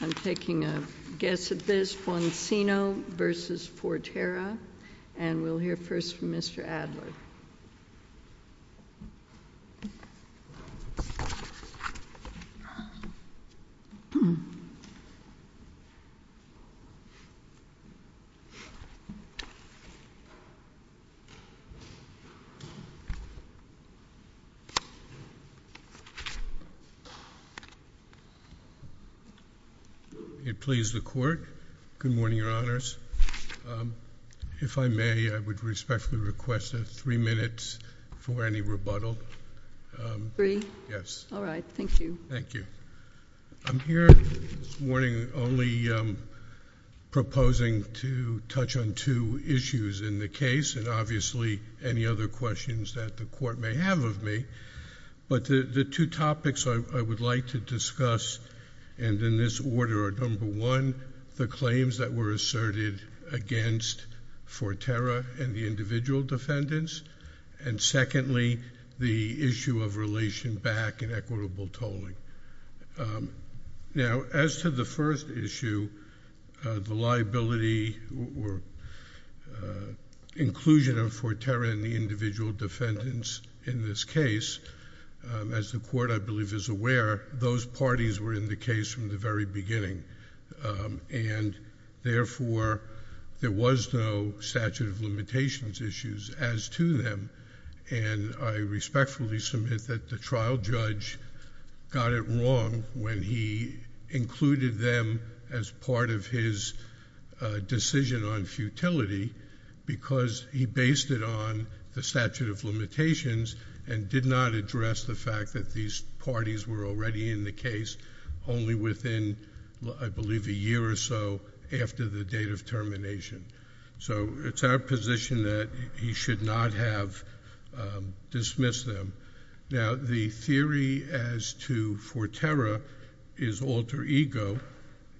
I'm taking a guess at this, Boncino v. Forterra. Please the court. Good morning, Your Honors. If I may, I would respectfully request three minutes for any rebuttal. Three? Yes. All right. Thank you. Thank you. I'm here this morning only proposing to touch on two issues in the case and obviously any other questions that the court may have of me. But the two topics I would like to discuss and in this order are, number one, the claims that were asserted against Forterra and the individual defendants, and secondly, the issue of relation back and equitable tolling. Now, as to the first issue, the liability or inclusion of Forterra and the individual defendants in this case, as the court, I believe, is aware, those parties were in the case from the very beginning. And therefore, there was no statute of limitations issues as to them, and I respectfully submit that the trial judge got it wrong when he included them as part of his decision on futility, because he based it on the statute of limitations and did not address the fact that these parties were already in the case only within, I believe, a year or so after the date of termination. So it's our position that he should not have dismissed them. Now, the theory as to Forterra is alter ego,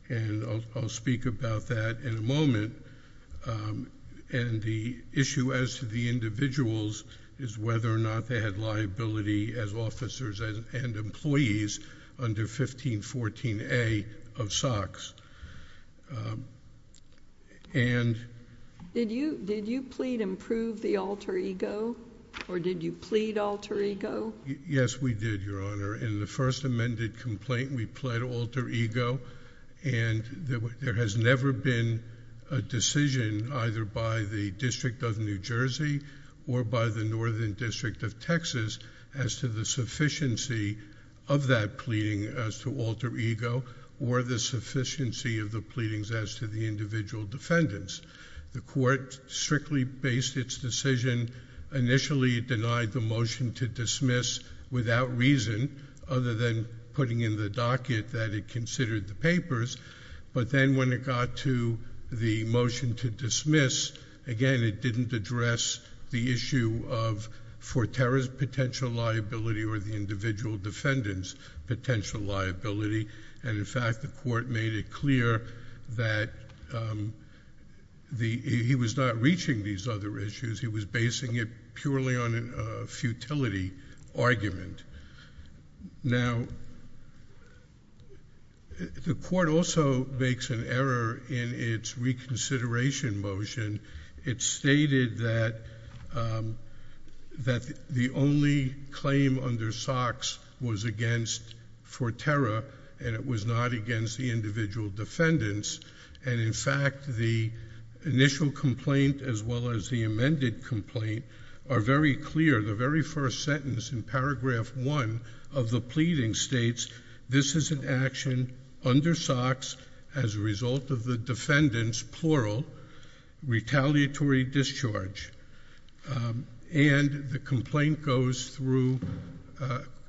and I'll speak about that in a moment. And the issue as to the individuals is whether or not they had liability as officers and employees under 1514A of SOX. And... Did you plead and prove the alter ego, or did you plead alter ego? Yes, we did, Your Honor. In the first amended complaint, we plead alter ego, and there has never been a decision either by the District of New Jersey or by the Northern District of Texas as to the sufficiency of that pleading as to alter ego or the sufficiency of the pleadings as to the individual defendants. The court strictly based its decision. Initially, it denied the motion to dismiss without reason, other than putting in the docket that it considered the papers. But then when it got to the motion to dismiss, again, it didn't address the issue of Forterra's potential liability or the individual defendants' potential liability. And, in fact, the court made it clear that he was not reaching these other issues. He was basing it purely on a futility argument. Now, the court also makes an error in its reconsideration motion. It stated that the only claim under SOX was against Forterra, and it was not against the individual defendants. And, in fact, the initial complaint as well as the amended complaint are very clear. The very first sentence in paragraph one of the pleading states, this is an action under SOX as a result of the defendants' plural retaliatory discharge. And the complaint goes through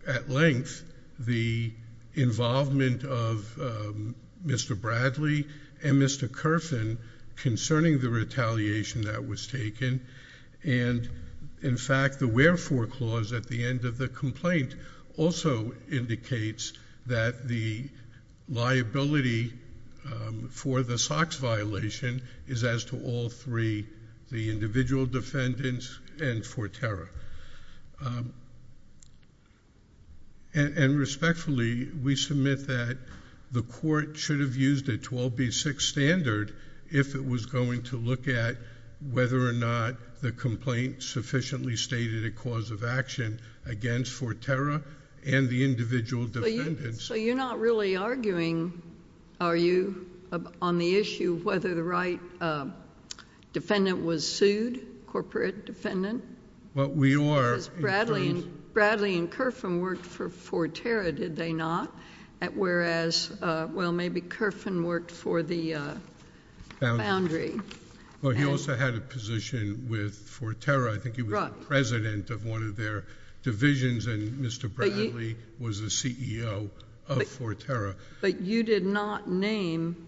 at length the involvement of Mr. Bradley and Mr. Kerfin concerning the retaliation that was taken. And, in fact, the wherefore clause at the end of the complaint also indicates that the liability for the SOX violation is as to all three, the individual defendants and Forterra. And, respectfully, we submit that the court should have used a 12B6 standard if it was going to look at whether or not the complaint sufficiently stated a cause of action against Forterra and the individual defendants. So you're not really arguing, are you, on the issue of whether the right defendant was sued, corporate defendant? Well, we are. Because Bradley and Kerfin worked for Forterra, did they not? Whereas, well, maybe Kerfin worked for the foundry. Well, he also had a position with Forterra. I think he was the president of one of their divisions, and Mr. Bradley was the CEO of Forterra. But you did not name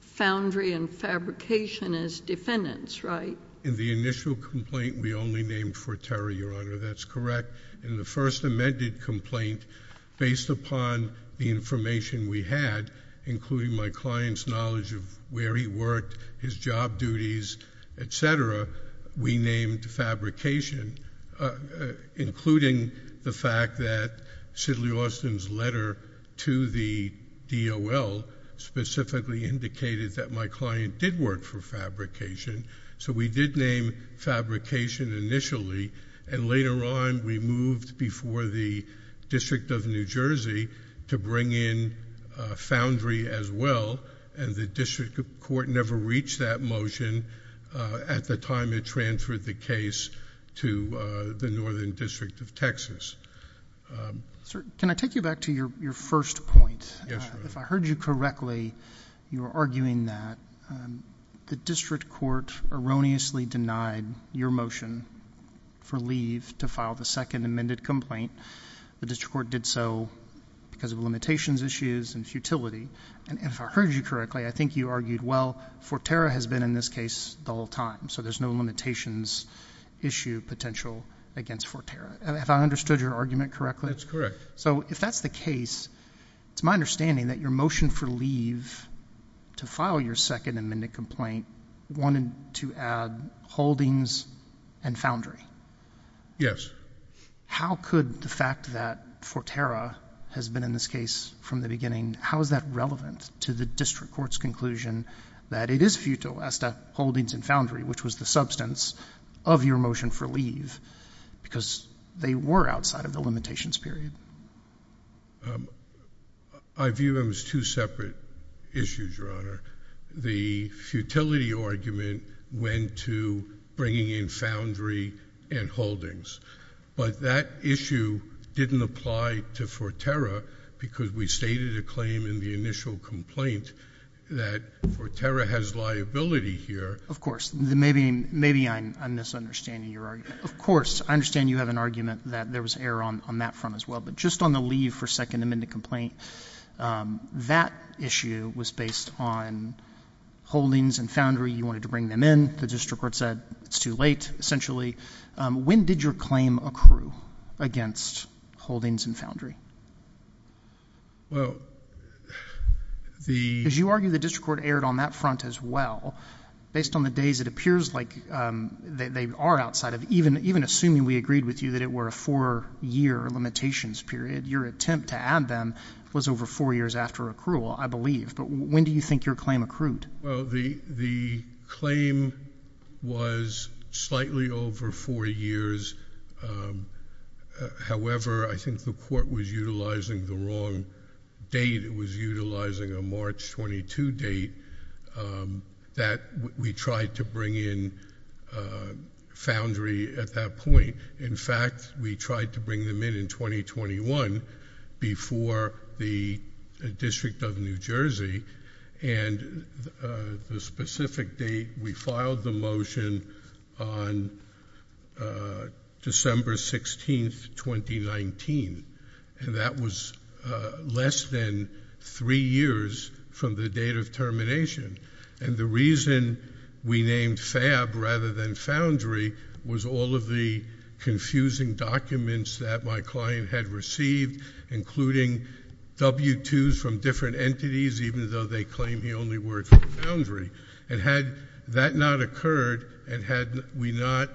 foundry and fabrication as defendants, right? No. In the initial complaint, we only named Forterra, Your Honor. That's correct. In the first amended complaint, based upon the information we had, including my client's knowledge of where he worked, his job duties, et cetera, we named fabrication, including the fact that Sidley Austin's letter to the DOL specifically indicated that my client did work for fabrication. So we did name fabrication initially, and later on we moved before the District of New Jersey to bring in foundry as well, and the District Court never reached that motion at the time it transferred the case to the Northern District of Texas. Sir, can I take you back to your first point? Yes, Your Honor. If I heard you correctly, you were arguing that the District Court erroneously denied your motion for leave to file the second amended complaint. The District Court did so because of limitations issues and futility. And if I heard you correctly, I think you argued, well, Forterra has been in this case the whole time, so there's no limitations issue potential against Forterra. Have I understood your argument correctly? That's correct. So if that's the case, it's my understanding that your motion for leave to file your second amended complaint wanted to add holdings and foundry. Yes. How could the fact that Forterra has been in this case from the beginning, how is that relevant to the District Court's conclusion that it is futile as to holdings and foundry, which was the substance of your motion for leave, because they were outside of the limitations period? I view them as two separate issues, Your Honor. The futility argument went to bringing in foundry and holdings. But that issue didn't apply to Forterra because we stated a claim in the initial complaint that Forterra has liability here. Of course. Maybe I'm misunderstanding your argument. Of course. I understand you have an argument that there was error on that front as well. But just on the leave for second amended complaint, that issue was based on holdings and foundry. You wanted to bring them in. The District Court said it's too late, essentially. When did your claim accrue against holdings and foundry? Well, the — Because you argue the District Court erred on that front as well. Based on the days, it appears like they are outside of — even assuming we agreed with you that it were a four-year limitations period, your attempt to add them was over four years after accrual, I believe. But when do you think your claim accrued? Well, the claim was slightly over four years. However, I think the court was utilizing the wrong date. It was utilizing a March 22 date that we tried to bring in foundry at that point. In fact, we tried to bring them in in 2021 before the District of New Jersey. And the specific date, we filed the motion on December 16, 2019. And that was less than three years from the date of termination. And the reason we named FAB rather than foundry was all of the confusing documents that my client had received, including W-2s from different entities, even though they claim he only worked for foundry. And had that not occurred, and had we not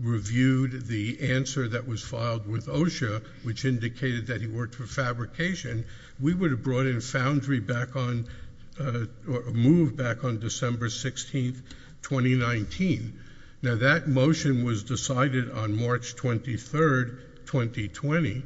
reviewed the answer that was filed with OSHA, which indicated that he worked for fabrication, we would have brought in foundry back on — moved back on December 16, 2019. Now, that motion was decided on March 23, 2020,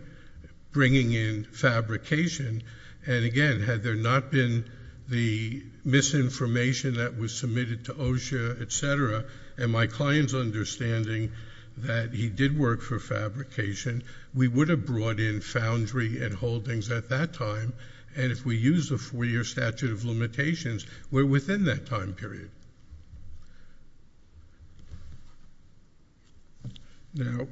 bringing in fabrication. And again, had there not been the misinformation that was submitted to OSHA, et cetera, and my client's understanding that he did work for fabrication, we would have brought in foundry and holdings at that time. And if we used a four-year statute of limitations, we're within that time period. Now,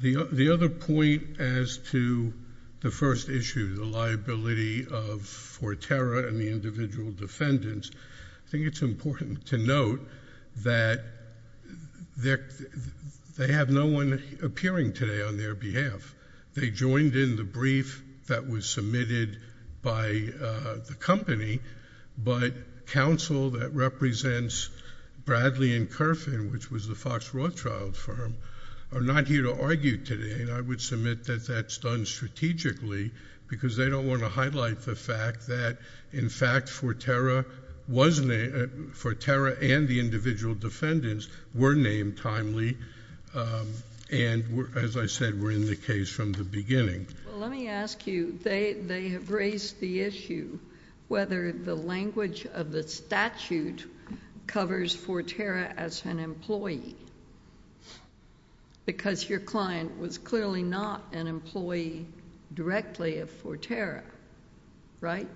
the other point as to the first issue, the liability of Fortera and the individual defendants, I think it's important to note that they have no one appearing today on their behalf. They joined in the brief that was submitted by the company, but counsel that represents Bradley and Kerfin, which was the Fox Rothschild firm, are not here to argue today. And I would submit that that's done strategically because they don't want to highlight the fact that, in fact, Fortera was — Fortera and the individual defendants were named timely and, as I said, were in the case from the beginning. Well, let me ask you, they have raised the issue whether the language of the statute covers Fortera as an employee because your client was clearly not an employee directly of Fortera, right?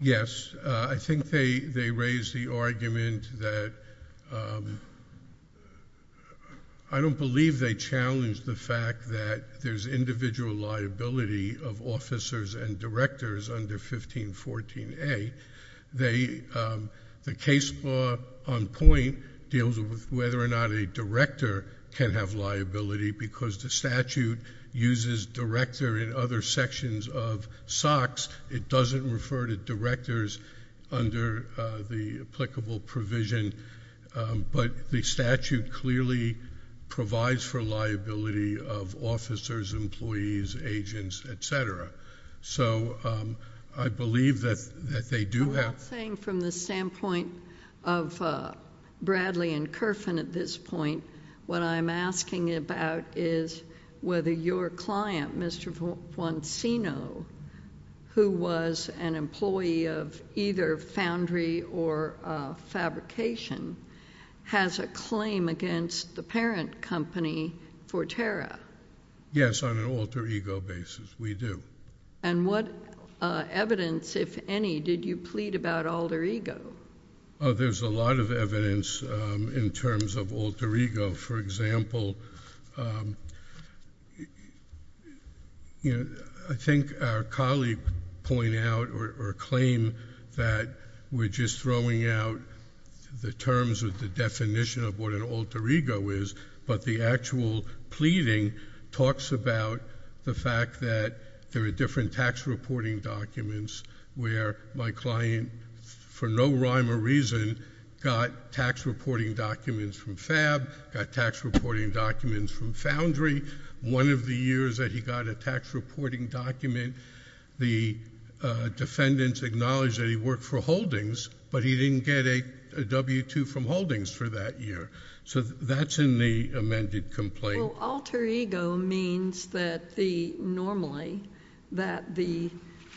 Yes. I think they raised the argument that — I don't believe they challenged the fact that there's individual liability of officers and directors under 1514A. The case law on point deals with whether or not a director can have liability because the statute uses director in other sections of SOX. It doesn't refer to directors under the applicable provision, but the statute clearly provides for liability of officers, employees, agents, et cetera. So I believe that they do have — I'm not saying from the standpoint of Bradley and Kerfin at this point, what I'm asking about is whether your client, Mr. Foncino, who was an employee of either Foundry or Fabrication, has a claim against the parent company, Fortera. Yes, on an alter ego basis, we do. And what evidence, if any, did you plead about alter ego? There's a lot of evidence in terms of alter ego. For example, I think our colleague pointed out or claimed that we're just throwing out the terms of the definition of what an alter ego is, but the actual pleading talks about the fact that there are different tax reporting documents where my client, for no rhyme or reason, got tax reporting documents from Fab, got tax reporting documents from Foundry. One of the years that he got a tax reporting document, the defendants acknowledged that he worked for Holdings, but he didn't get a W-2 from Holdings for that year. So that's in the amended complaint. Well, alter ego means that the — normally, that the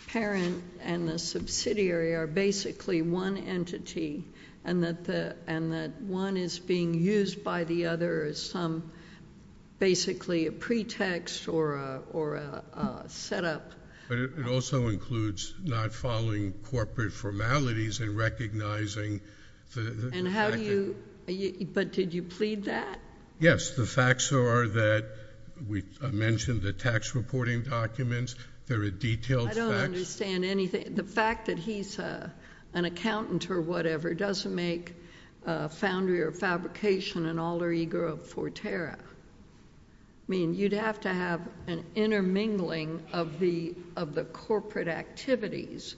parent and the subsidiary are basically one entity and that one is being used by the other as some — basically a pretext or a setup. But it also includes not following corporate formalities and recognizing the — And how do you — but did you plead that? Yes. The facts are that we mentioned the tax reporting documents. There are detailed facts. I don't understand anything. The fact that he's an accountant or whatever doesn't make Foundry or Fabrication an alter ego of Forterra. I mean, you'd have to have an intermingling of the corporate activities.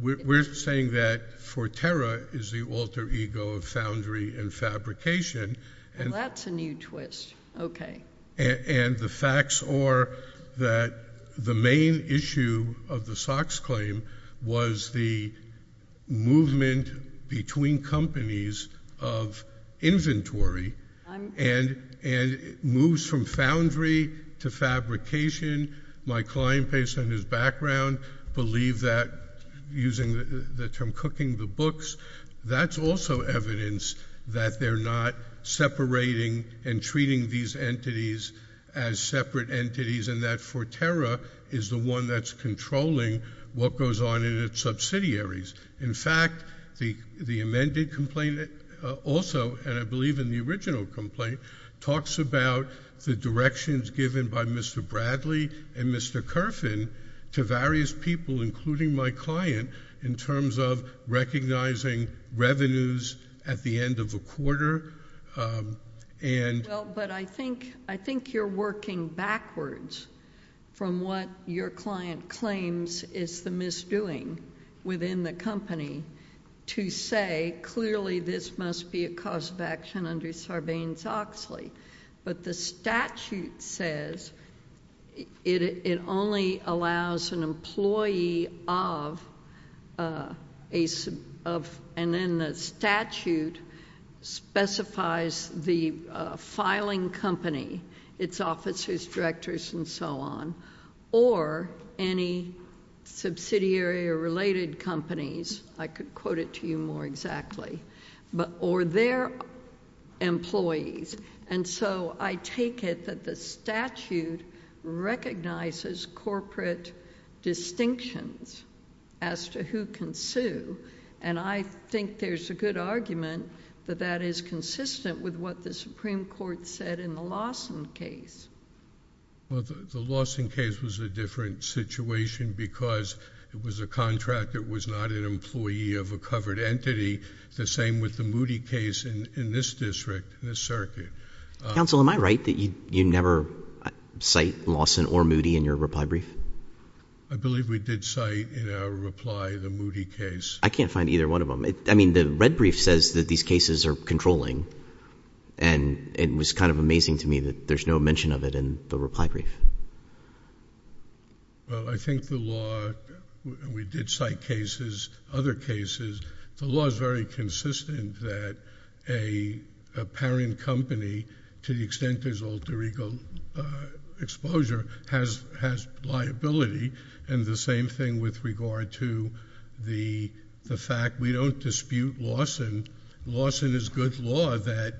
We're saying that Forterra is the alter ego of Foundry and Fabrication. Well, that's a new twist. Okay. And the facts are that the main issue of the Sox claim was the movement between companies of inventory and moves from Foundry to Fabrication. My client based on his background believed that using the term cooking the books. That's also evidence that they're not separating and treating these entities as separate entities and that Forterra is the one that's controlling what goes on in its subsidiaries. In fact, the amended complaint also, and I believe in the original complaint, talks about the directions given by Mr. Bradley and Mr. Kerfin to various people, including my client, in terms of recognizing revenues at the end of a quarter and —— to say, clearly this must be a cause of action under Sarbanes-Oxley. But the statute says it only allows an employee of — and then the statute specifies the filing company, its officers, directors, and so on, or any subsidiary or related companies. I could quote it to you more exactly. Or their employees. And so I take it that the statute recognizes corporate distinctions as to who can sue. And I think there's a good argument that that is consistent with what the Supreme Court said in the Lawson case. Well, the Lawson case was a different situation because it was a contract. It was not an employee of a covered entity. The same with the Moody case in this district, in this circuit. Counsel, am I right that you never cite Lawson or Moody in your reply brief? I believe we did cite in our reply the Moody case. I can't find either one of them. I mean, the red brief says that these cases are controlling. And it was kind of amazing to me that there's no mention of it in the reply brief. Well, I think the law — we did cite cases, other cases. The law is very consistent that a parent company, to the extent there's alter ego exposure, has liability. And the same thing with regard to the fact we don't dispute Lawson. Lawson is good law that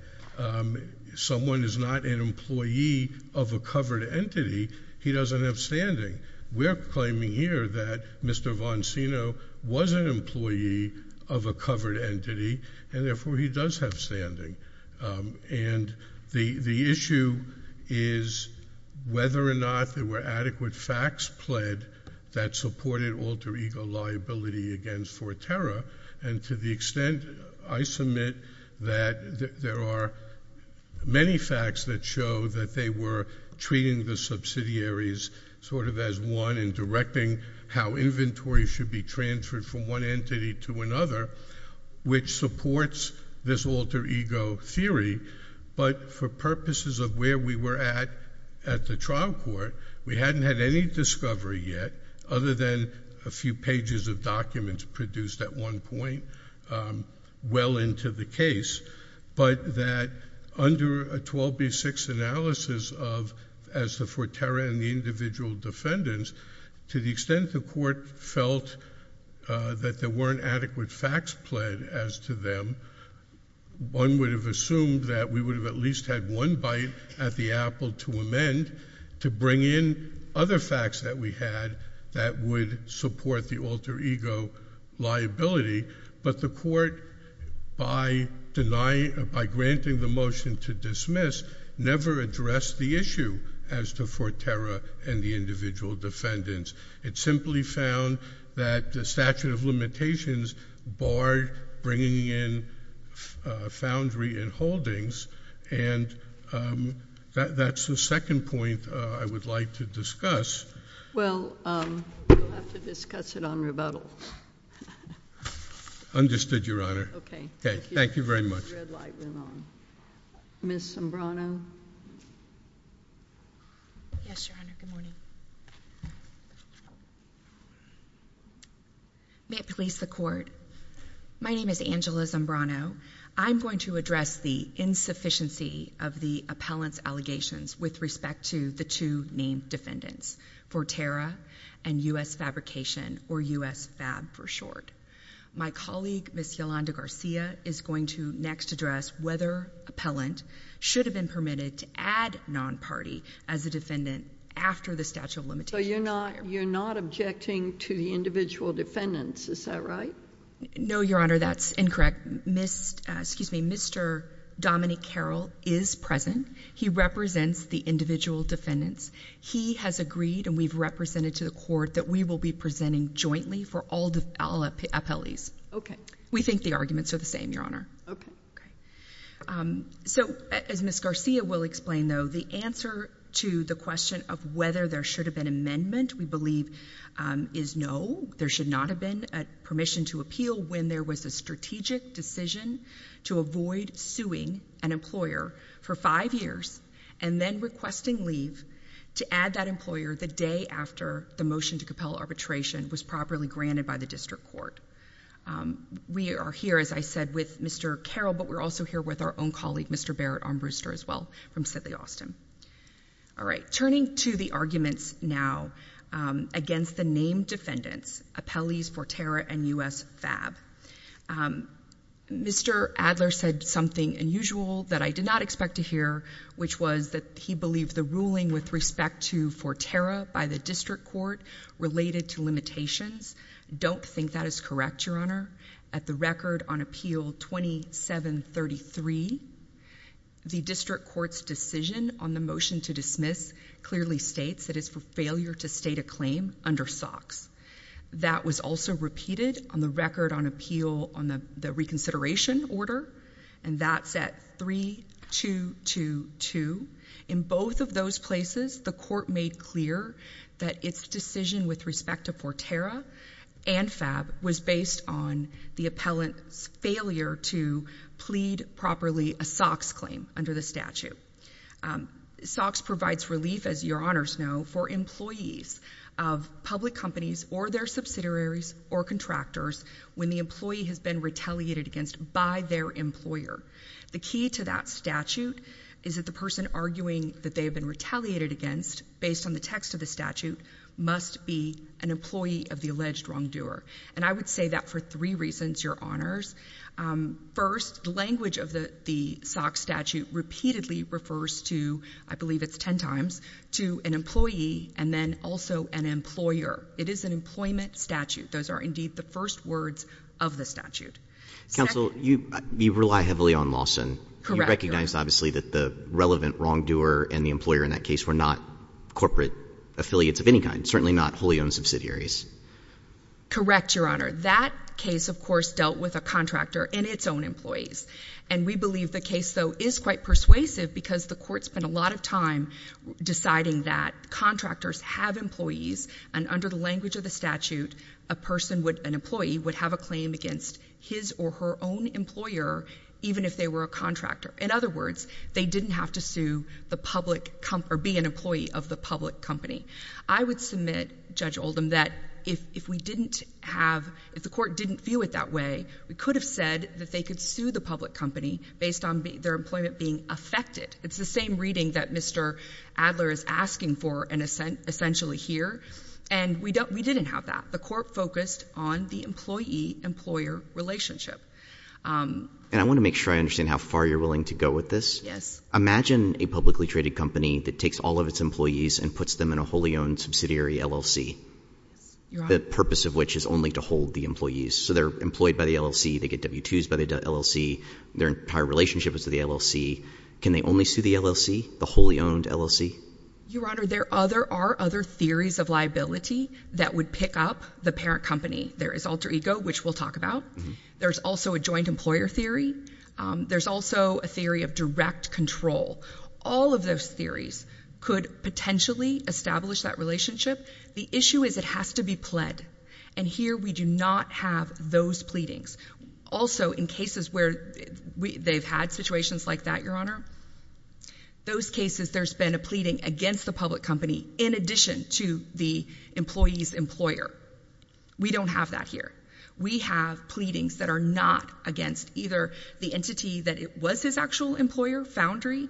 someone is not an employee of a covered entity. He doesn't have standing. We're claiming here that Mr. Vonseno was an employee of a covered entity, and therefore he does have standing. And the issue is whether or not there were adequate facts pled that supported alter ego liability against Forterra. And to the extent I submit that there are many facts that show that they were treating the subsidiaries sort of as one and directing how inventory should be transferred from one entity to another, which supports this alter ego theory. But for purposes of where we were at at the trial court, we hadn't had any discovery yet, other than a few pages of documents produced at one point well into the case. But that under a 12B6 analysis of as the Forterra and the individual defendants, to the extent the court felt that there weren't adequate facts pled as to them, one would have assumed that we would have at least had one bite at the apple to amend to bring in other facts that we had that would support the alter ego liability. But the court, by granting the motion to dismiss, never addressed the issue as to Forterra and the individual defendants. It simply found that the statute of limitations barred bringing in foundry and holdings. And that's the second point I would like to discuss. Well, we'll have to discuss it on rebuttal. Understood, Your Honor. Okay. Thank you very much. Ms. Zambrano? Yes, Your Honor. Good morning. May it please the court. My name is Angela Zambrano. I'm going to address the insufficiency of the appellant's allegations with respect to the two named defendants, Forterra and U.S. Fabrication, or U.S. Fab for short. My colleague, Ms. Yolanda Garcia, is going to next address whether appellant should have been permitted to add non-party as a defendant after the statute of limitations. So you're not objecting to the individual defendants, is that right? No, Your Honor, that's incorrect. Mr. Dominic Carroll is present. He represents the individual defendants. He has agreed, and we've represented to the court, that we will be presenting jointly for all appellees. Okay. We think the arguments are the same, Your Honor. Okay. So, as Ms. Garcia will explain, though, the answer to the question of whether there should have been amendment, we believe, is no. There should not have been permission to appeal when there was a strategic decision to avoid suing an employer for five years and then requesting leave to add that employer the day after the motion to compel arbitration was properly granted by the district court. We are here, as I said, with Mr. Carroll, but we're also here with our own colleague, Mr. Barrett Armbruster, as well, from Sidley Austin. All right. Turning to the arguments now against the named defendants, appellees Forterra and U.S. FAB, Mr. Adler said something unusual that I did not expect to hear, which was that he believed the ruling with respect to Forterra by the district court related to limitations. Don't think that is correct, Your Honor. At the record on appeal 2733, the district court's decision on the motion to dismiss clearly states it is for failure to state a claim under SOX. That was also repeated on the record on appeal on the reconsideration order, and that's at 3222. In both of those places, the court made clear that its decision with respect to Forterra and FAB was based on the appellant's failure to plead properly a SOX claim under the statute. SOX provides relief, as Your Honors know, for employees of public companies or their subsidiaries or contractors when the employee has been retaliated against by their employer. The key to that statute is that the person arguing that they have been retaliated against, based on the text of the statute, must be an employee of the alleged wrongdoer. And I would say that for three reasons, Your Honors. First, the language of the SOX statute repeatedly refers to, I believe it's ten times, to an employee and then also an employer. It is an employment statute. Those are indeed the first words of the statute. Counsel, you rely heavily on Lawson. You recognize, obviously, that the relevant wrongdoer and the employer in that case were not corporate affiliates of any kind, certainly not wholly owned subsidiaries. Correct, Your Honor. That case, of course, dealt with a contractor and its own employees. And we believe the case, though, is quite persuasive because the court spent a lot of time deciding that contractors have employees and under the language of the statute, an employee would have a claim against his or her own employer, even if they were a contractor. In other words, they didn't have to be an employee of the public company. I would submit, Judge Oldham, that if the court didn't view it that way, we could have said that they could sue the public company based on their employment being affected. It's the same reading that Mr. Adler is asking for and essentially here. And we didn't have that. The court focused on the employee-employer relationship. And I want to make sure I understand how far you're willing to go with this. Yes. Imagine a publicly traded company that takes all of its employees and puts them in a wholly owned subsidiary LLC. Your Honor. The purpose of which is only to hold the employees. So they're employed by the LLC, they get W-2s by the LLC, their entire relationship is to the LLC. Can they only sue the LLC, the wholly owned LLC? Your Honor, there are other theories of liability that would pick up the parent company. There is alter ego, which we'll talk about. There's also a joint employer theory. There's also a theory of direct control. All of those theories could potentially establish that relationship. The issue is it has to be pled. And here we do not have those pleadings. Also, in cases where they've had situations like that, Your Honor, those cases there's been a pleading against the public company in addition to the employee's employer. We don't have that here. We have pleadings that are not against either the entity that was his actual employer, Foundry,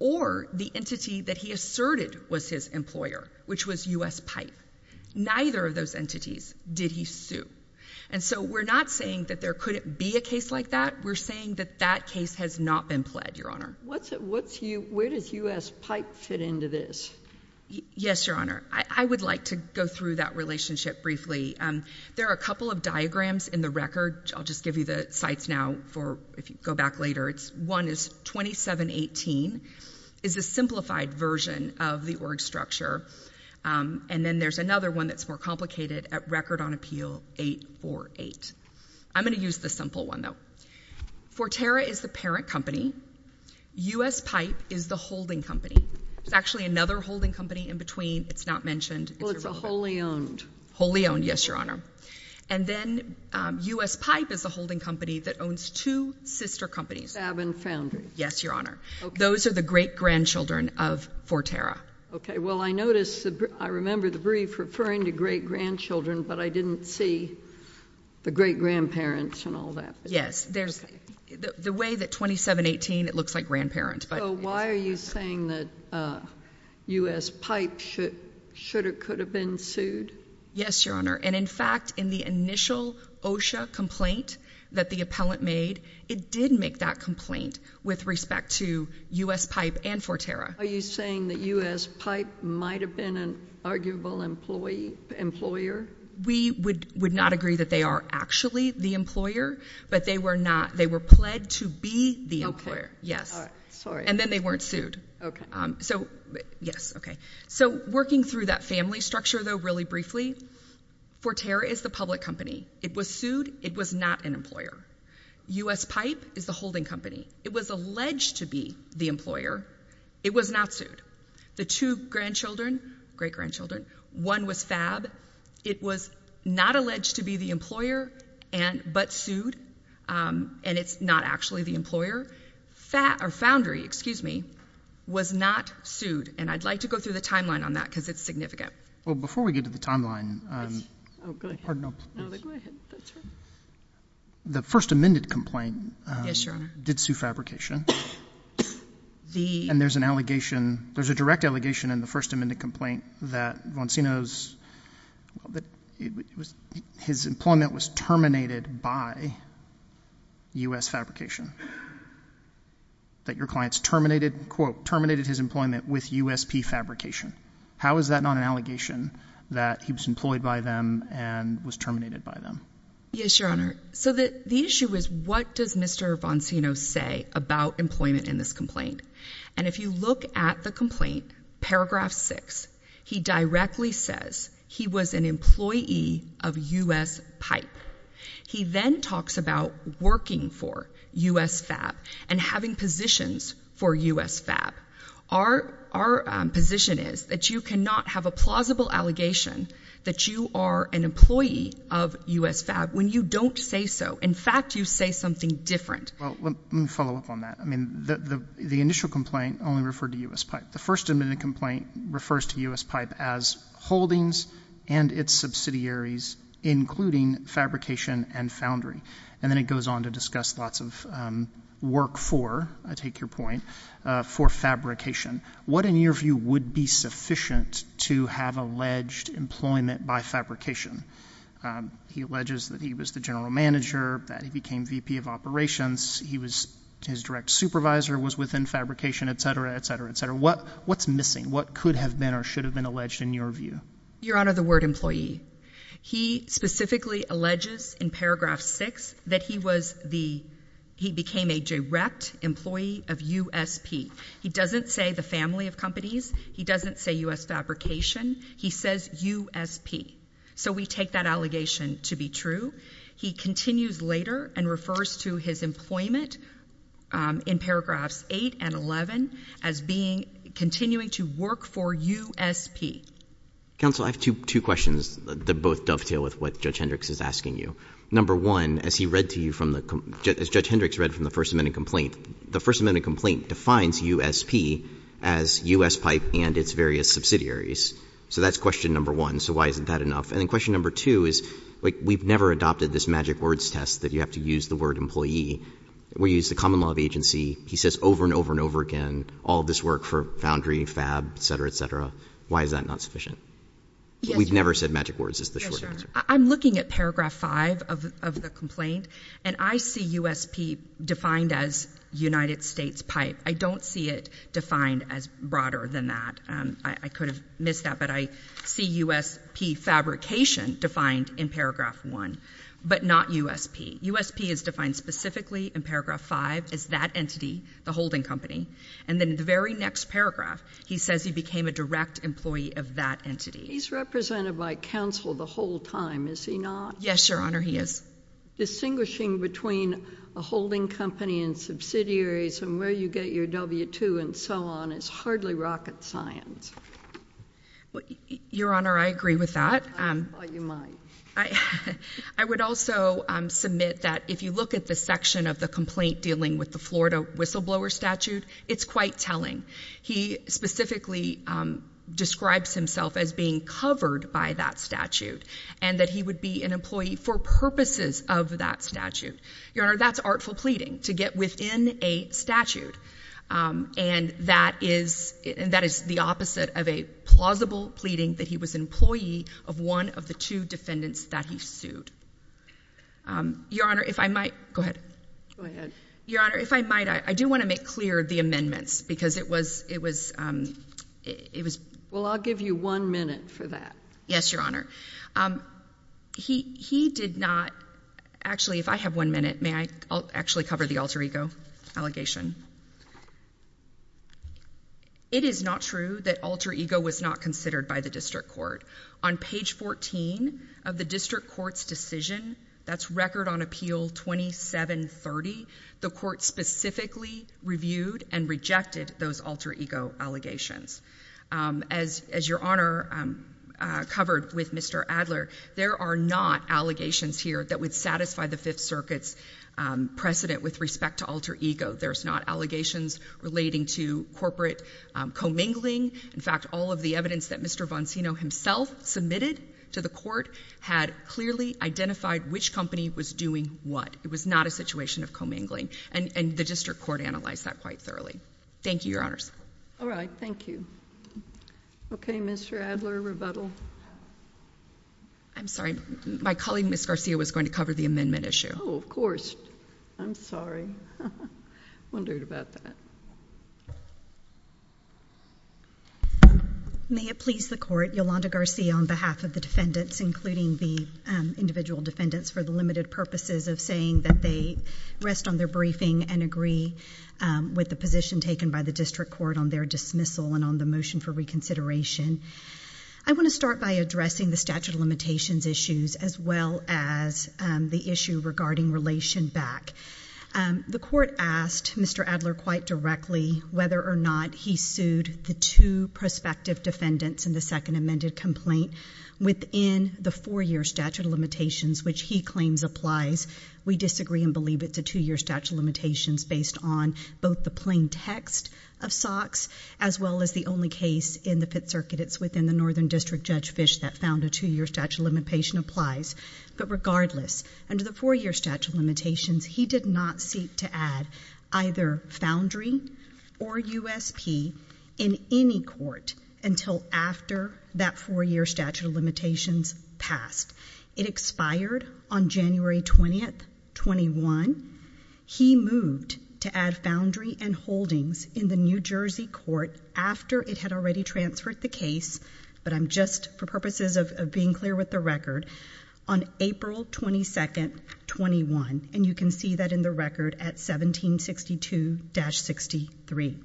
or the entity that he asserted was his employer, which was U.S. Pipe. Neither of those entities did he sue. And so we're not saying that there couldn't be a case like that. We're saying that that case has not been pled, Your Honor. Where does U.S. Pipe fit into this? Yes, Your Honor. I would like to go through that relationship briefly. There are a couple of diagrams in the record. I'll just give you the sites now if you go back later. One is 2718. It's a simplified version of the org structure. And then there's another one that's more complicated at Record on Appeal 848. I'm going to use the simple one, though. Forterra is the parent company. U.S. Pipe is the holding company. There's actually another holding company in between. It's not mentioned. Well, it's a wholly owned. Wholly owned, yes, Your Honor. And then U.S. Pipe is a holding company that owns two sister companies. Fab and Foundry. Yes, Your Honor. Those are the great-grandchildren of Forterra. Okay. Well, I notice I remember the brief referring to great-grandchildren, but I didn't see the great-grandparents and all that. Yes. The way that 2718, it looks like grandparent. So why are you saying that U.S. Pipe should or could have been sued? Yes, Your Honor. And, in fact, in the initial OSHA complaint that the appellant made, it did make that complaint with respect to U.S. Pipe and Forterra. Are you saying that U.S. Pipe might have been an arguable employer? We would not agree that they are actually the employer, but they were not. They were pled to be the employer. Yes. All right. Sorry. And then they weren't sued. Okay. Yes. Okay. So working through that family structure, though, really briefly, Forterra is the public company. It was sued. It was not an employer. U.S. Pipe is the holding company. It was alleged to be the employer. It was not sued. The two grandchildren, great-grandchildren, one was Fab. It was not alleged to be the employer but sued, and it's not actually the employer. Foundry, excuse me, was not sued. And I'd like to go through the timeline on that because it's significant. Well, before we get to the timeline, the first amended complaint did sue Fabrication. And there's an allegation, there's a direct allegation in the first amended complaint that Voncino's, his employment was terminated by U.S. Fabrication, that your clients terminated, quote, terminated his employment with U.S.P. Fabrication. How is that not an allegation that he was employed by them and was terminated by them? Yes, Your Honor. So the issue is what does Mr. Voncino say about employment in this complaint? And if you look at the complaint, paragraph 6, he directly says he was an employee of U.S. Pipe. He then talks about working for U.S. Fab and having positions for U.S. Fab. Our position is that you cannot have a plausible allegation that you are an employee of U.S. Fab when you don't say so. In fact, you say something different. Well, let me follow up on that. I mean, the initial complaint only referred to U.S. Pipe. The first amended complaint refers to U.S. Pipe as holdings and its subsidiaries, including Fabrication and Foundry. And then it goes on to discuss lots of work for, I take your point, for Fabrication. What, in your view, would be sufficient to have alleged employment by Fabrication? He alleges that he was the general manager, that he became VP of operations, his direct supervisor was within Fabrication, et cetera, et cetera, et cetera. What's missing? What could have been or should have been alleged in your view? Your Honor, the word employee. He specifically alleges in paragraph 6 that he became a direct employee of U.S. P. He doesn't say the family of companies. He doesn't say U.S. Fabrication. He says U.S. P. So we take that allegation to be true. He continues later and refers to his employment in paragraphs 8 and 11 as continuing to work for U.S. P. Counsel, I have two questions that both dovetail with what Judge Hendricks is asking you. Number one, as Judge Hendricks read from the first amended complaint, the first amended complaint defines U.S. P. as U.S. Pipe and its various subsidiaries. So that's question number one. So why isn't that enough? And then question number two is we've never adopted this magic words test that you have to use the word employee. We use the common law of agency. He says over and over and over again, all this work for Foundry, Fab, et cetera, et cetera. Why is that not sufficient? We've never said magic words is the short answer. I'm looking at paragraph 5 of the complaint, and I see U.S. P. defined as United States Pipe. I don't see it defined as broader than that. I could have missed that, but I see U.S. P. Fabrication defined in paragraph 1, but not U.S. P. U.S. P. is defined specifically in paragraph 5 as that entity, the holding company. And then in the very next paragraph, he says he became a direct employee of that entity. He's represented by counsel the whole time, is he not? Yes, Your Honor, he is. Distinguishing between a holding company and subsidiaries and where you get your W-2 and so on is hardly rocket science. Your Honor, I agree with that. I thought you might. I would also submit that if you look at the section of the complaint dealing with the Florida whistleblower statute, it's quite telling. He specifically describes himself as being covered by that statute and that he would be an employee for purposes of that statute. Your Honor, that's artful pleading, to get within a statute. And that is the opposite of a plausible pleading that he was an employee of one of the two defendants that he sued. Your Honor, if I might. Go ahead. Go ahead. Your Honor, if I might, I do want to make clear the amendments because it was, it was, it was. Well, I'll give you one minute for that. Yes, Your Honor. He, he did not. Actually, if I have one minute, may I actually cover the alter ego allegation? It is not true that alter ego was not considered by the district court. On page 14 of the district court's decision, that's record on appeal 2730, the court specifically reviewed and rejected those alter ego allegations. As, as Your Honor covered with Mr. Adler, there are not allegations here that would satisfy the Fifth Circuit's precedent with respect to alter ego. There's not allegations relating to corporate commingling. In fact, all of the evidence that Mr. Boncino himself submitted to the court had clearly identified which company was doing what. It was not a situation of commingling. And, and the district court analyzed that quite thoroughly. Thank you, Your Honors. All right. Thank you. Okay, Mr. Adler, rebuttal. I'm sorry. My colleague, Ms. Garcia, was going to cover the amendment issue. Oh, of course. I'm sorry. I wondered about that. May it please the court, Yolanda Garcia on behalf of the defendants, including the individual defendants for the limited purposes of saying that they rest on their briefing and agree with the position taken by the district court on their dismissal and on the motion for reconsideration. I want to start by addressing the statute of limitations issues as well as the issue regarding relation back. The court asked Mr. Adler quite directly whether or not he sued the two prospective defendants in the second amended complaint within the four-year statute of limitations, which he claims applies. We disagree and believe it's a two-year statute of limitations based on both the plain text of SOX as well as the only case in the Pitt Circuit. It's within the Northern District Judge Fish that found a two-year statute of limitation applies. But regardless, under the four-year statute of limitations, he did not seek to add either foundry or USP in any court until after that four-year statute of limitations passed. It expired on January 20th, 21. He moved to add foundry and holdings in the New Jersey court after it had already transferred the case, but I'm just for purposes of being clear with the record, on April 22nd, 21. And you can see that in the record at 1762-63.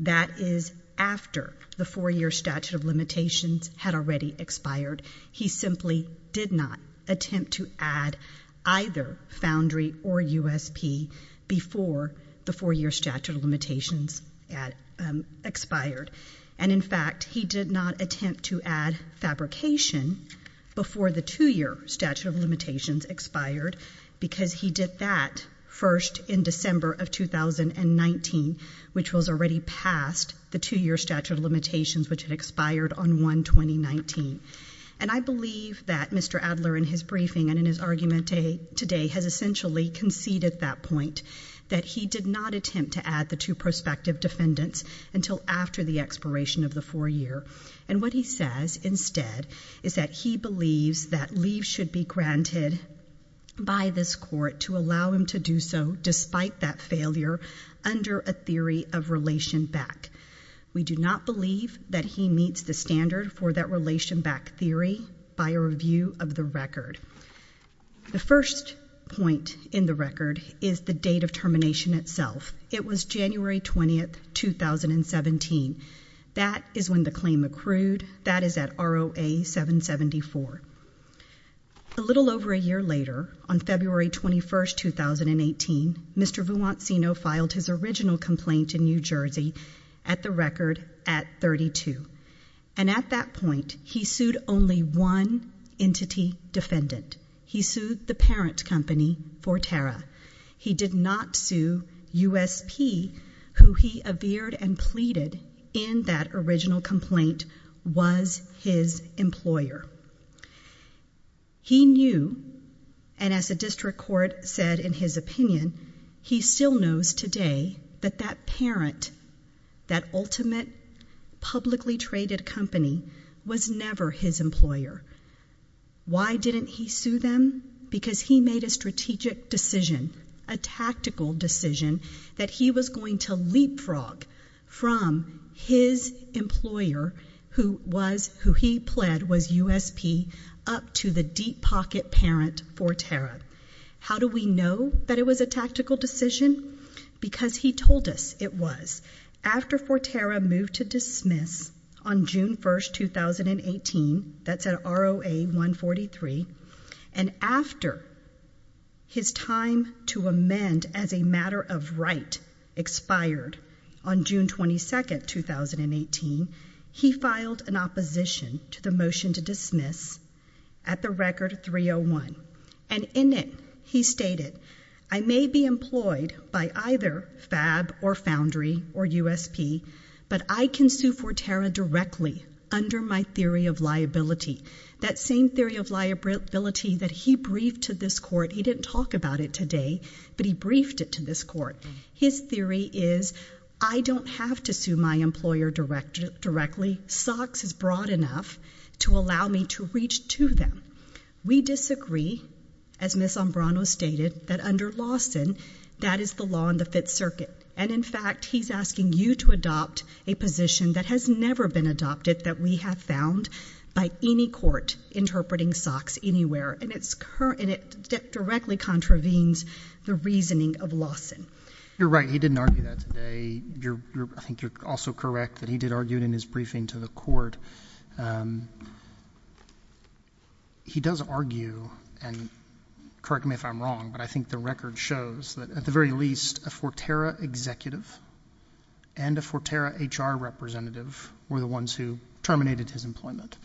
That is after the four-year statute of limitations had already expired. He simply did not attempt to add either foundry or USP before the four-year statute of limitations expired. And in fact, he did not attempt to add fabrication before the two-year statute of limitations expired because he did that first in December of 2019, which was already past the two-year statute of limitations, which had expired on 1-2019. And I believe that Mr. Adler in his briefing and in his argument today has essentially conceded that point, that he did not attempt to add the two prospective defendants until after the expiration of the four-year. And what he says instead is that he believes that leave should be granted by this court to allow him to do so despite that failure under a theory of relation back. We do not believe that he meets the standard for that relation back theory by a review of the record. The first point in the record is the date of termination itself. It was January 20th, 2017. That is when the claim accrued. That is at ROA-774. A little over a year later, on February 21st, 2018, Mr. Vuoncino filed his original complaint in New Jersey at the record at 32. And at that point, he sued only one entity defendant. He sued the parent company, Forterra. He did not sue USP, who he averred and pleaded in that original complaint was his employer. He knew, and as the district court said in his opinion, he still knows today that that parent, that ultimate publicly traded company was never his employer. Why didn't he sue them? Because he made a strategic decision, a tactical decision, that he was going to leapfrog from his employer, who he pled was USP, up to the deep pocket parent, Forterra. How do we know that it was a tactical decision? Because he told us it was. After Forterra moved to dismiss on June 1st, 2018, that's at ROA-143, and after his time to amend as a matter of right expired on June 22nd, 2018, he filed an opposition to the motion to dismiss at the record 301. And in it, he stated, I may be employed by either FAB or Foundry or USP, but I can sue Forterra directly under my theory of liability. That same theory of liability that he briefed to this court. He didn't talk about it today, but he briefed it to this court. His theory is, I don't have to sue my employer directly. SOX is broad enough to allow me to reach to them. We disagree, as Ms. Ambrano stated, that under Lawson, that is the law in the Fifth Circuit. And, in fact, he's asking you to adopt a position that has never been adopted, that we have found by any court interpreting SOX anywhere. And it directly contravenes the reasoning of Lawson. You're right. He didn't argue that today. I think you're also correct that he did argue it in his briefing to the court. He does argue, and correct me if I'm wrong, but I think the record shows that, at the very least, a Forterra executive and a Forterra HR representative were the ones who terminated his employment.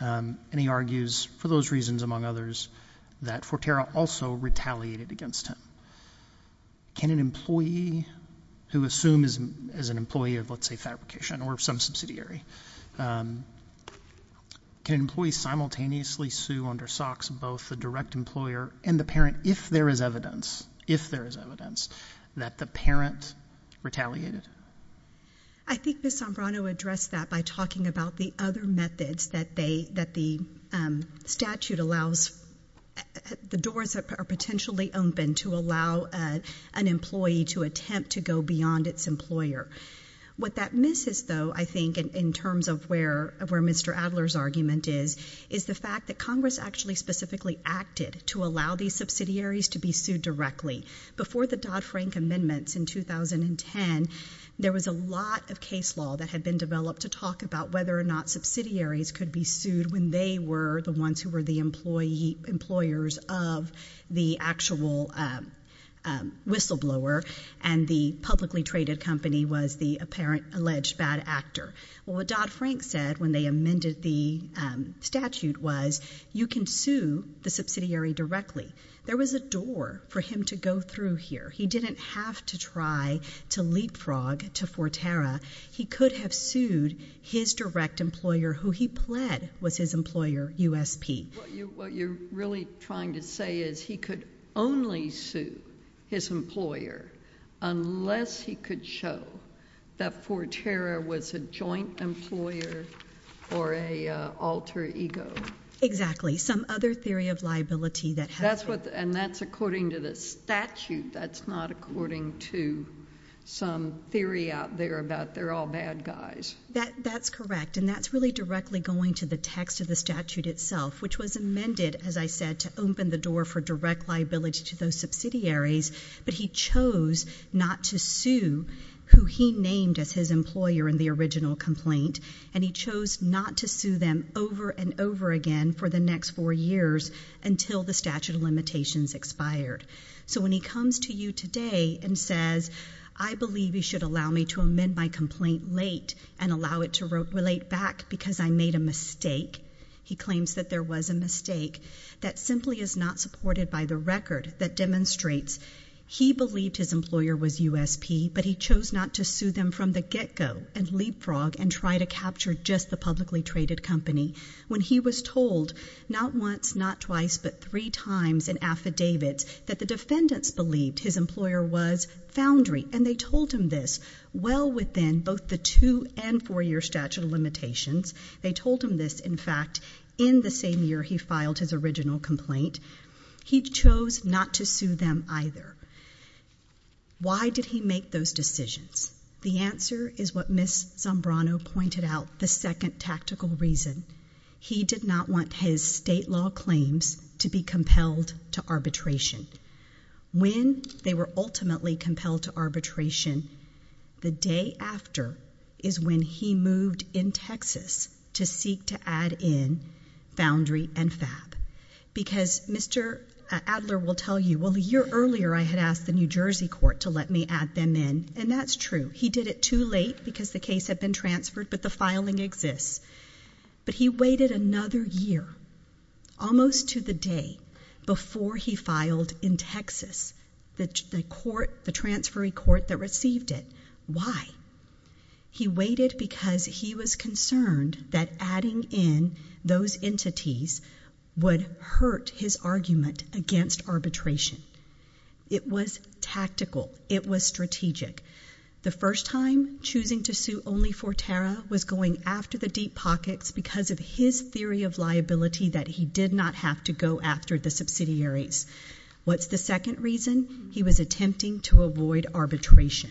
And he argues, for those reasons among others, that Forterra also retaliated against him. Can an employee who assumes as an employee of, let's say, fabrication or some subsidiary, can an employee simultaneously sue under SOX both the direct employer and the parent if there is evidence that the parent retaliated? I think Ms. Ambrano addressed that by talking about the other methods that the statute allows. The doors are potentially open to allow an employee to attempt to go beyond its employer. What that misses, though, I think, in terms of where Mr. Adler's argument is, is the fact that Congress actually specifically acted to allow these subsidiaries to be sued directly. Before the Dodd-Frank amendments in 2010, there was a lot of case law that had been developed to talk about whether or not subsidiaries could be sued when they were the ones who were the employers of the actual whistleblower and the publicly traded company was the apparent alleged bad actor. Well, what Dodd-Frank said when they amended the statute was, you can sue the subsidiary directly. There was a door for him to go through here. He didn't have to try to leapfrog to Forterra. He could have sued his direct employer who he pled was his employer, USP. What you're really trying to say is he could only sue his employer unless he could show that Forterra was a joint employer or an alter ego. Exactly. Some other theory of liability that has it. And that's according to the statute. That's not according to some theory out there about they're all bad guys. That's correct. And that's really directly going to the text of the statute itself, which was amended, as I said, to open the door for direct liability to those subsidiaries. But he chose not to sue who he named as his employer in the original complaint, and he chose not to sue them over and over again for the next four years until the statute of limitations expired. So when he comes to you today and says, I believe you should allow me to amend my complaint late and allow it to relate back because I made a mistake, he claims that there was a mistake that simply is not supported by the record that demonstrates he believed his employer was USP, but he chose not to sue them from the get go and leapfrog and try to capture just the publicly traded company. When he was told not once, not twice, but three times in affidavits that the defendants believed his employer was Foundry, and they told him this well within both the two and four year statute of limitations. They told him this, in fact, in the same year he filed his original complaint. He chose not to sue them either. Why did he make those decisions? The answer is what Ms. Zambrano pointed out, the second tactical reason. He did not want his state law claims to be compelled to arbitration. When they were ultimately compelled to arbitration, the day after is when he moved in Texas to seek to add in Foundry and Fab. Because Mr. Adler will tell you, well, the year earlier I had asked the New Jersey court to let me add them in, and that's true. He did it too late because the case had been transferred, but the filing exists. But he waited another year, almost to the day before he filed in Texas, the transferee court that received it. Why? He waited because he was concerned that adding in those entities would hurt his argument against arbitration. It was tactical. It was strategic. The first time choosing to sue only for Tara was going after the deep pockets because of his theory of liability that he did not have to go after the subsidiaries. What's the second reason? He was attempting to avoid arbitration.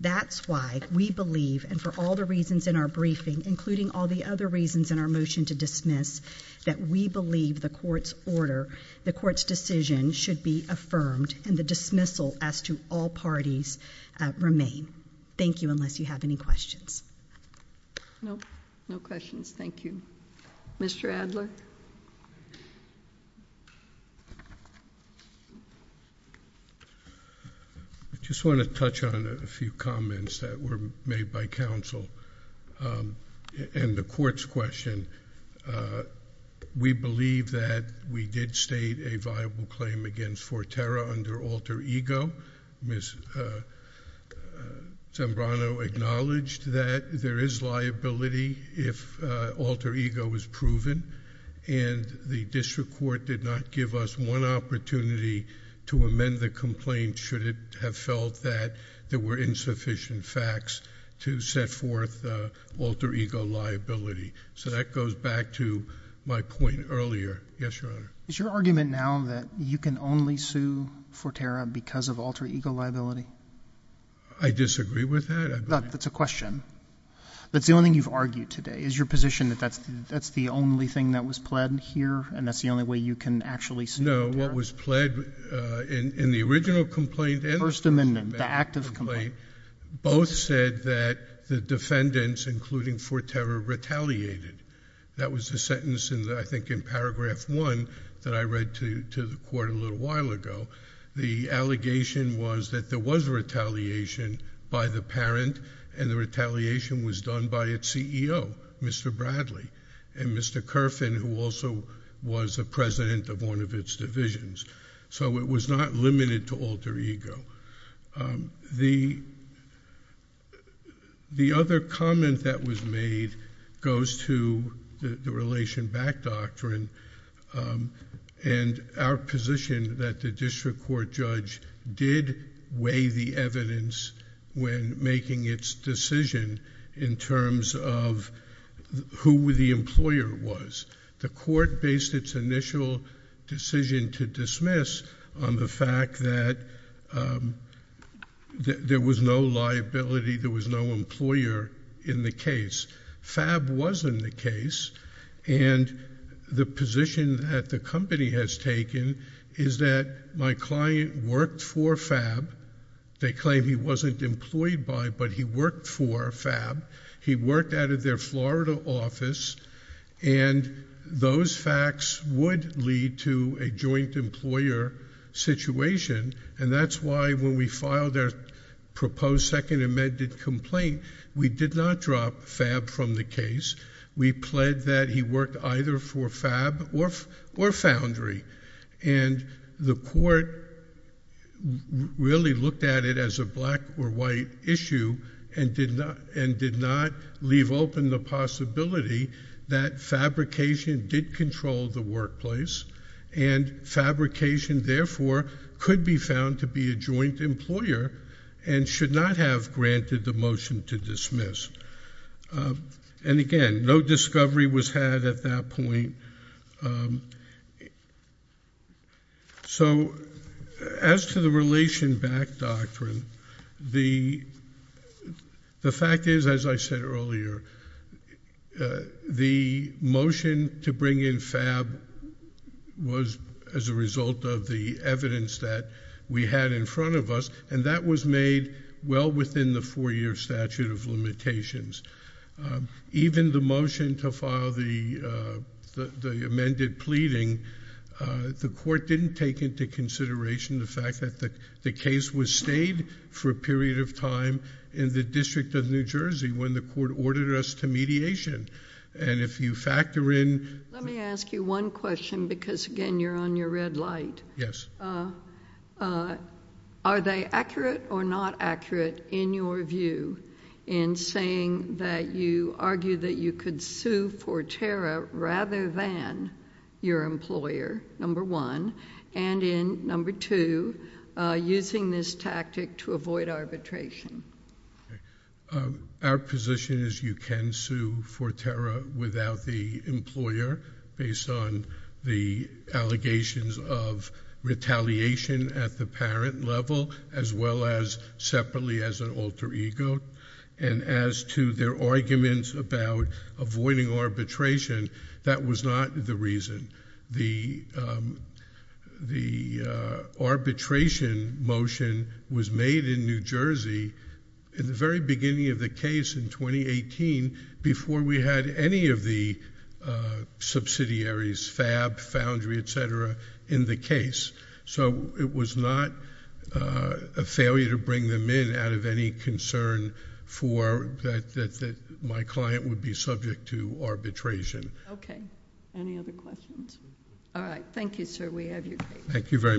That's why we believe, and for all the reasons in our briefing, including all the other reasons in our motion to dismiss, that we believe the court's order, the court's decision should be affirmed and the dismissal as to all parties remain. Thank you, unless you have any questions. No. Thank you. Mr. Adler? I just want to touch on a few comments that were made by counsel. And the court's question. We believe that we did state a viable claim against for Tara under alter ego. Ms. Zambrano acknowledged that there is liability if alter ego is proven. And the district court did not give us one opportunity to amend the complaint should it have felt that there were insufficient facts to set forth alter ego liability. So that goes back to my point earlier. Yes, Your Honor. Is your argument now that you can only sue for Tara because of alter ego liability? I disagree with that. That's a question. That's the only thing you've argued today. Is your position that that's the only thing that was pled here and that's the only way you can actually sue for Tara? No. What was pled in the original complaint and the first amendment. The active complaint. Both said that the defendants, including for Tara, retaliated. That was the sentence, I think, in paragraph one that I read to the court a little while ago. The allegation was that there was retaliation by the parent and the retaliation was done by its CEO, Mr. Bradley. And Mr. Kerfin, who also was a president of one of its divisions. So it was not limited to alter ego. The other comment that was made goes to the relation back doctrine and our position that the district court judge did weigh the evidence when making its decision in terms of who the employer was. The court based its initial decision to dismiss on the fact that there was no liability, there was no employer in the case. Fab was in the case. And the position that the company has taken is that my client worked for Fab. They claim he wasn't employed by but he worked for Fab. He worked out of their Florida office. And those facts would lead to a joint employer situation. And that's why when we filed our proposed second amended complaint, we did not drop Fab from the case. We pled that he worked either for Fab or Foundry. And the court really looked at it as a black or white issue and did not leave open the possibility that Fabrication did control the workplace. And Fabrication, therefore, could be found to be a joint employer and should not have granted the motion to dismiss. And again, no discovery was had at that point. So as to the relation back doctrine, the fact is, as I said earlier, the motion to bring in Fab was as a result of the evidence that we had in front of us. And that was made well within the four year statute of limitations. Even the motion to file the amended pleading, the court didn't take into consideration the fact that the case was stayed for a period of time in the District of New Jersey when the court ordered us to mediation. And if you factor in... Let me ask you one question because, again, you're on your red light. Yes. Are they accurate or not accurate in your view in saying that you argue that you could sue for tariff rather than your employer, number one, and in, number two, using this tactic to avoid arbitration? Our position is you can sue for tariff without the employer based on the allegations of retaliation at the parent level as well as separately as an alter ego. And as to their arguments about avoiding arbitration, that was not the reason. The arbitration motion was made in New Jersey in the very beginning of the case in 2018 before we had any of the subsidiaries, Fab, Foundry, et cetera, in the case. So it was not a failure to bring them in out of any concern that my client would be subject to arbitration. Okay. Any other questions? All right. Thank you, sir. We have your case. Thank you very much.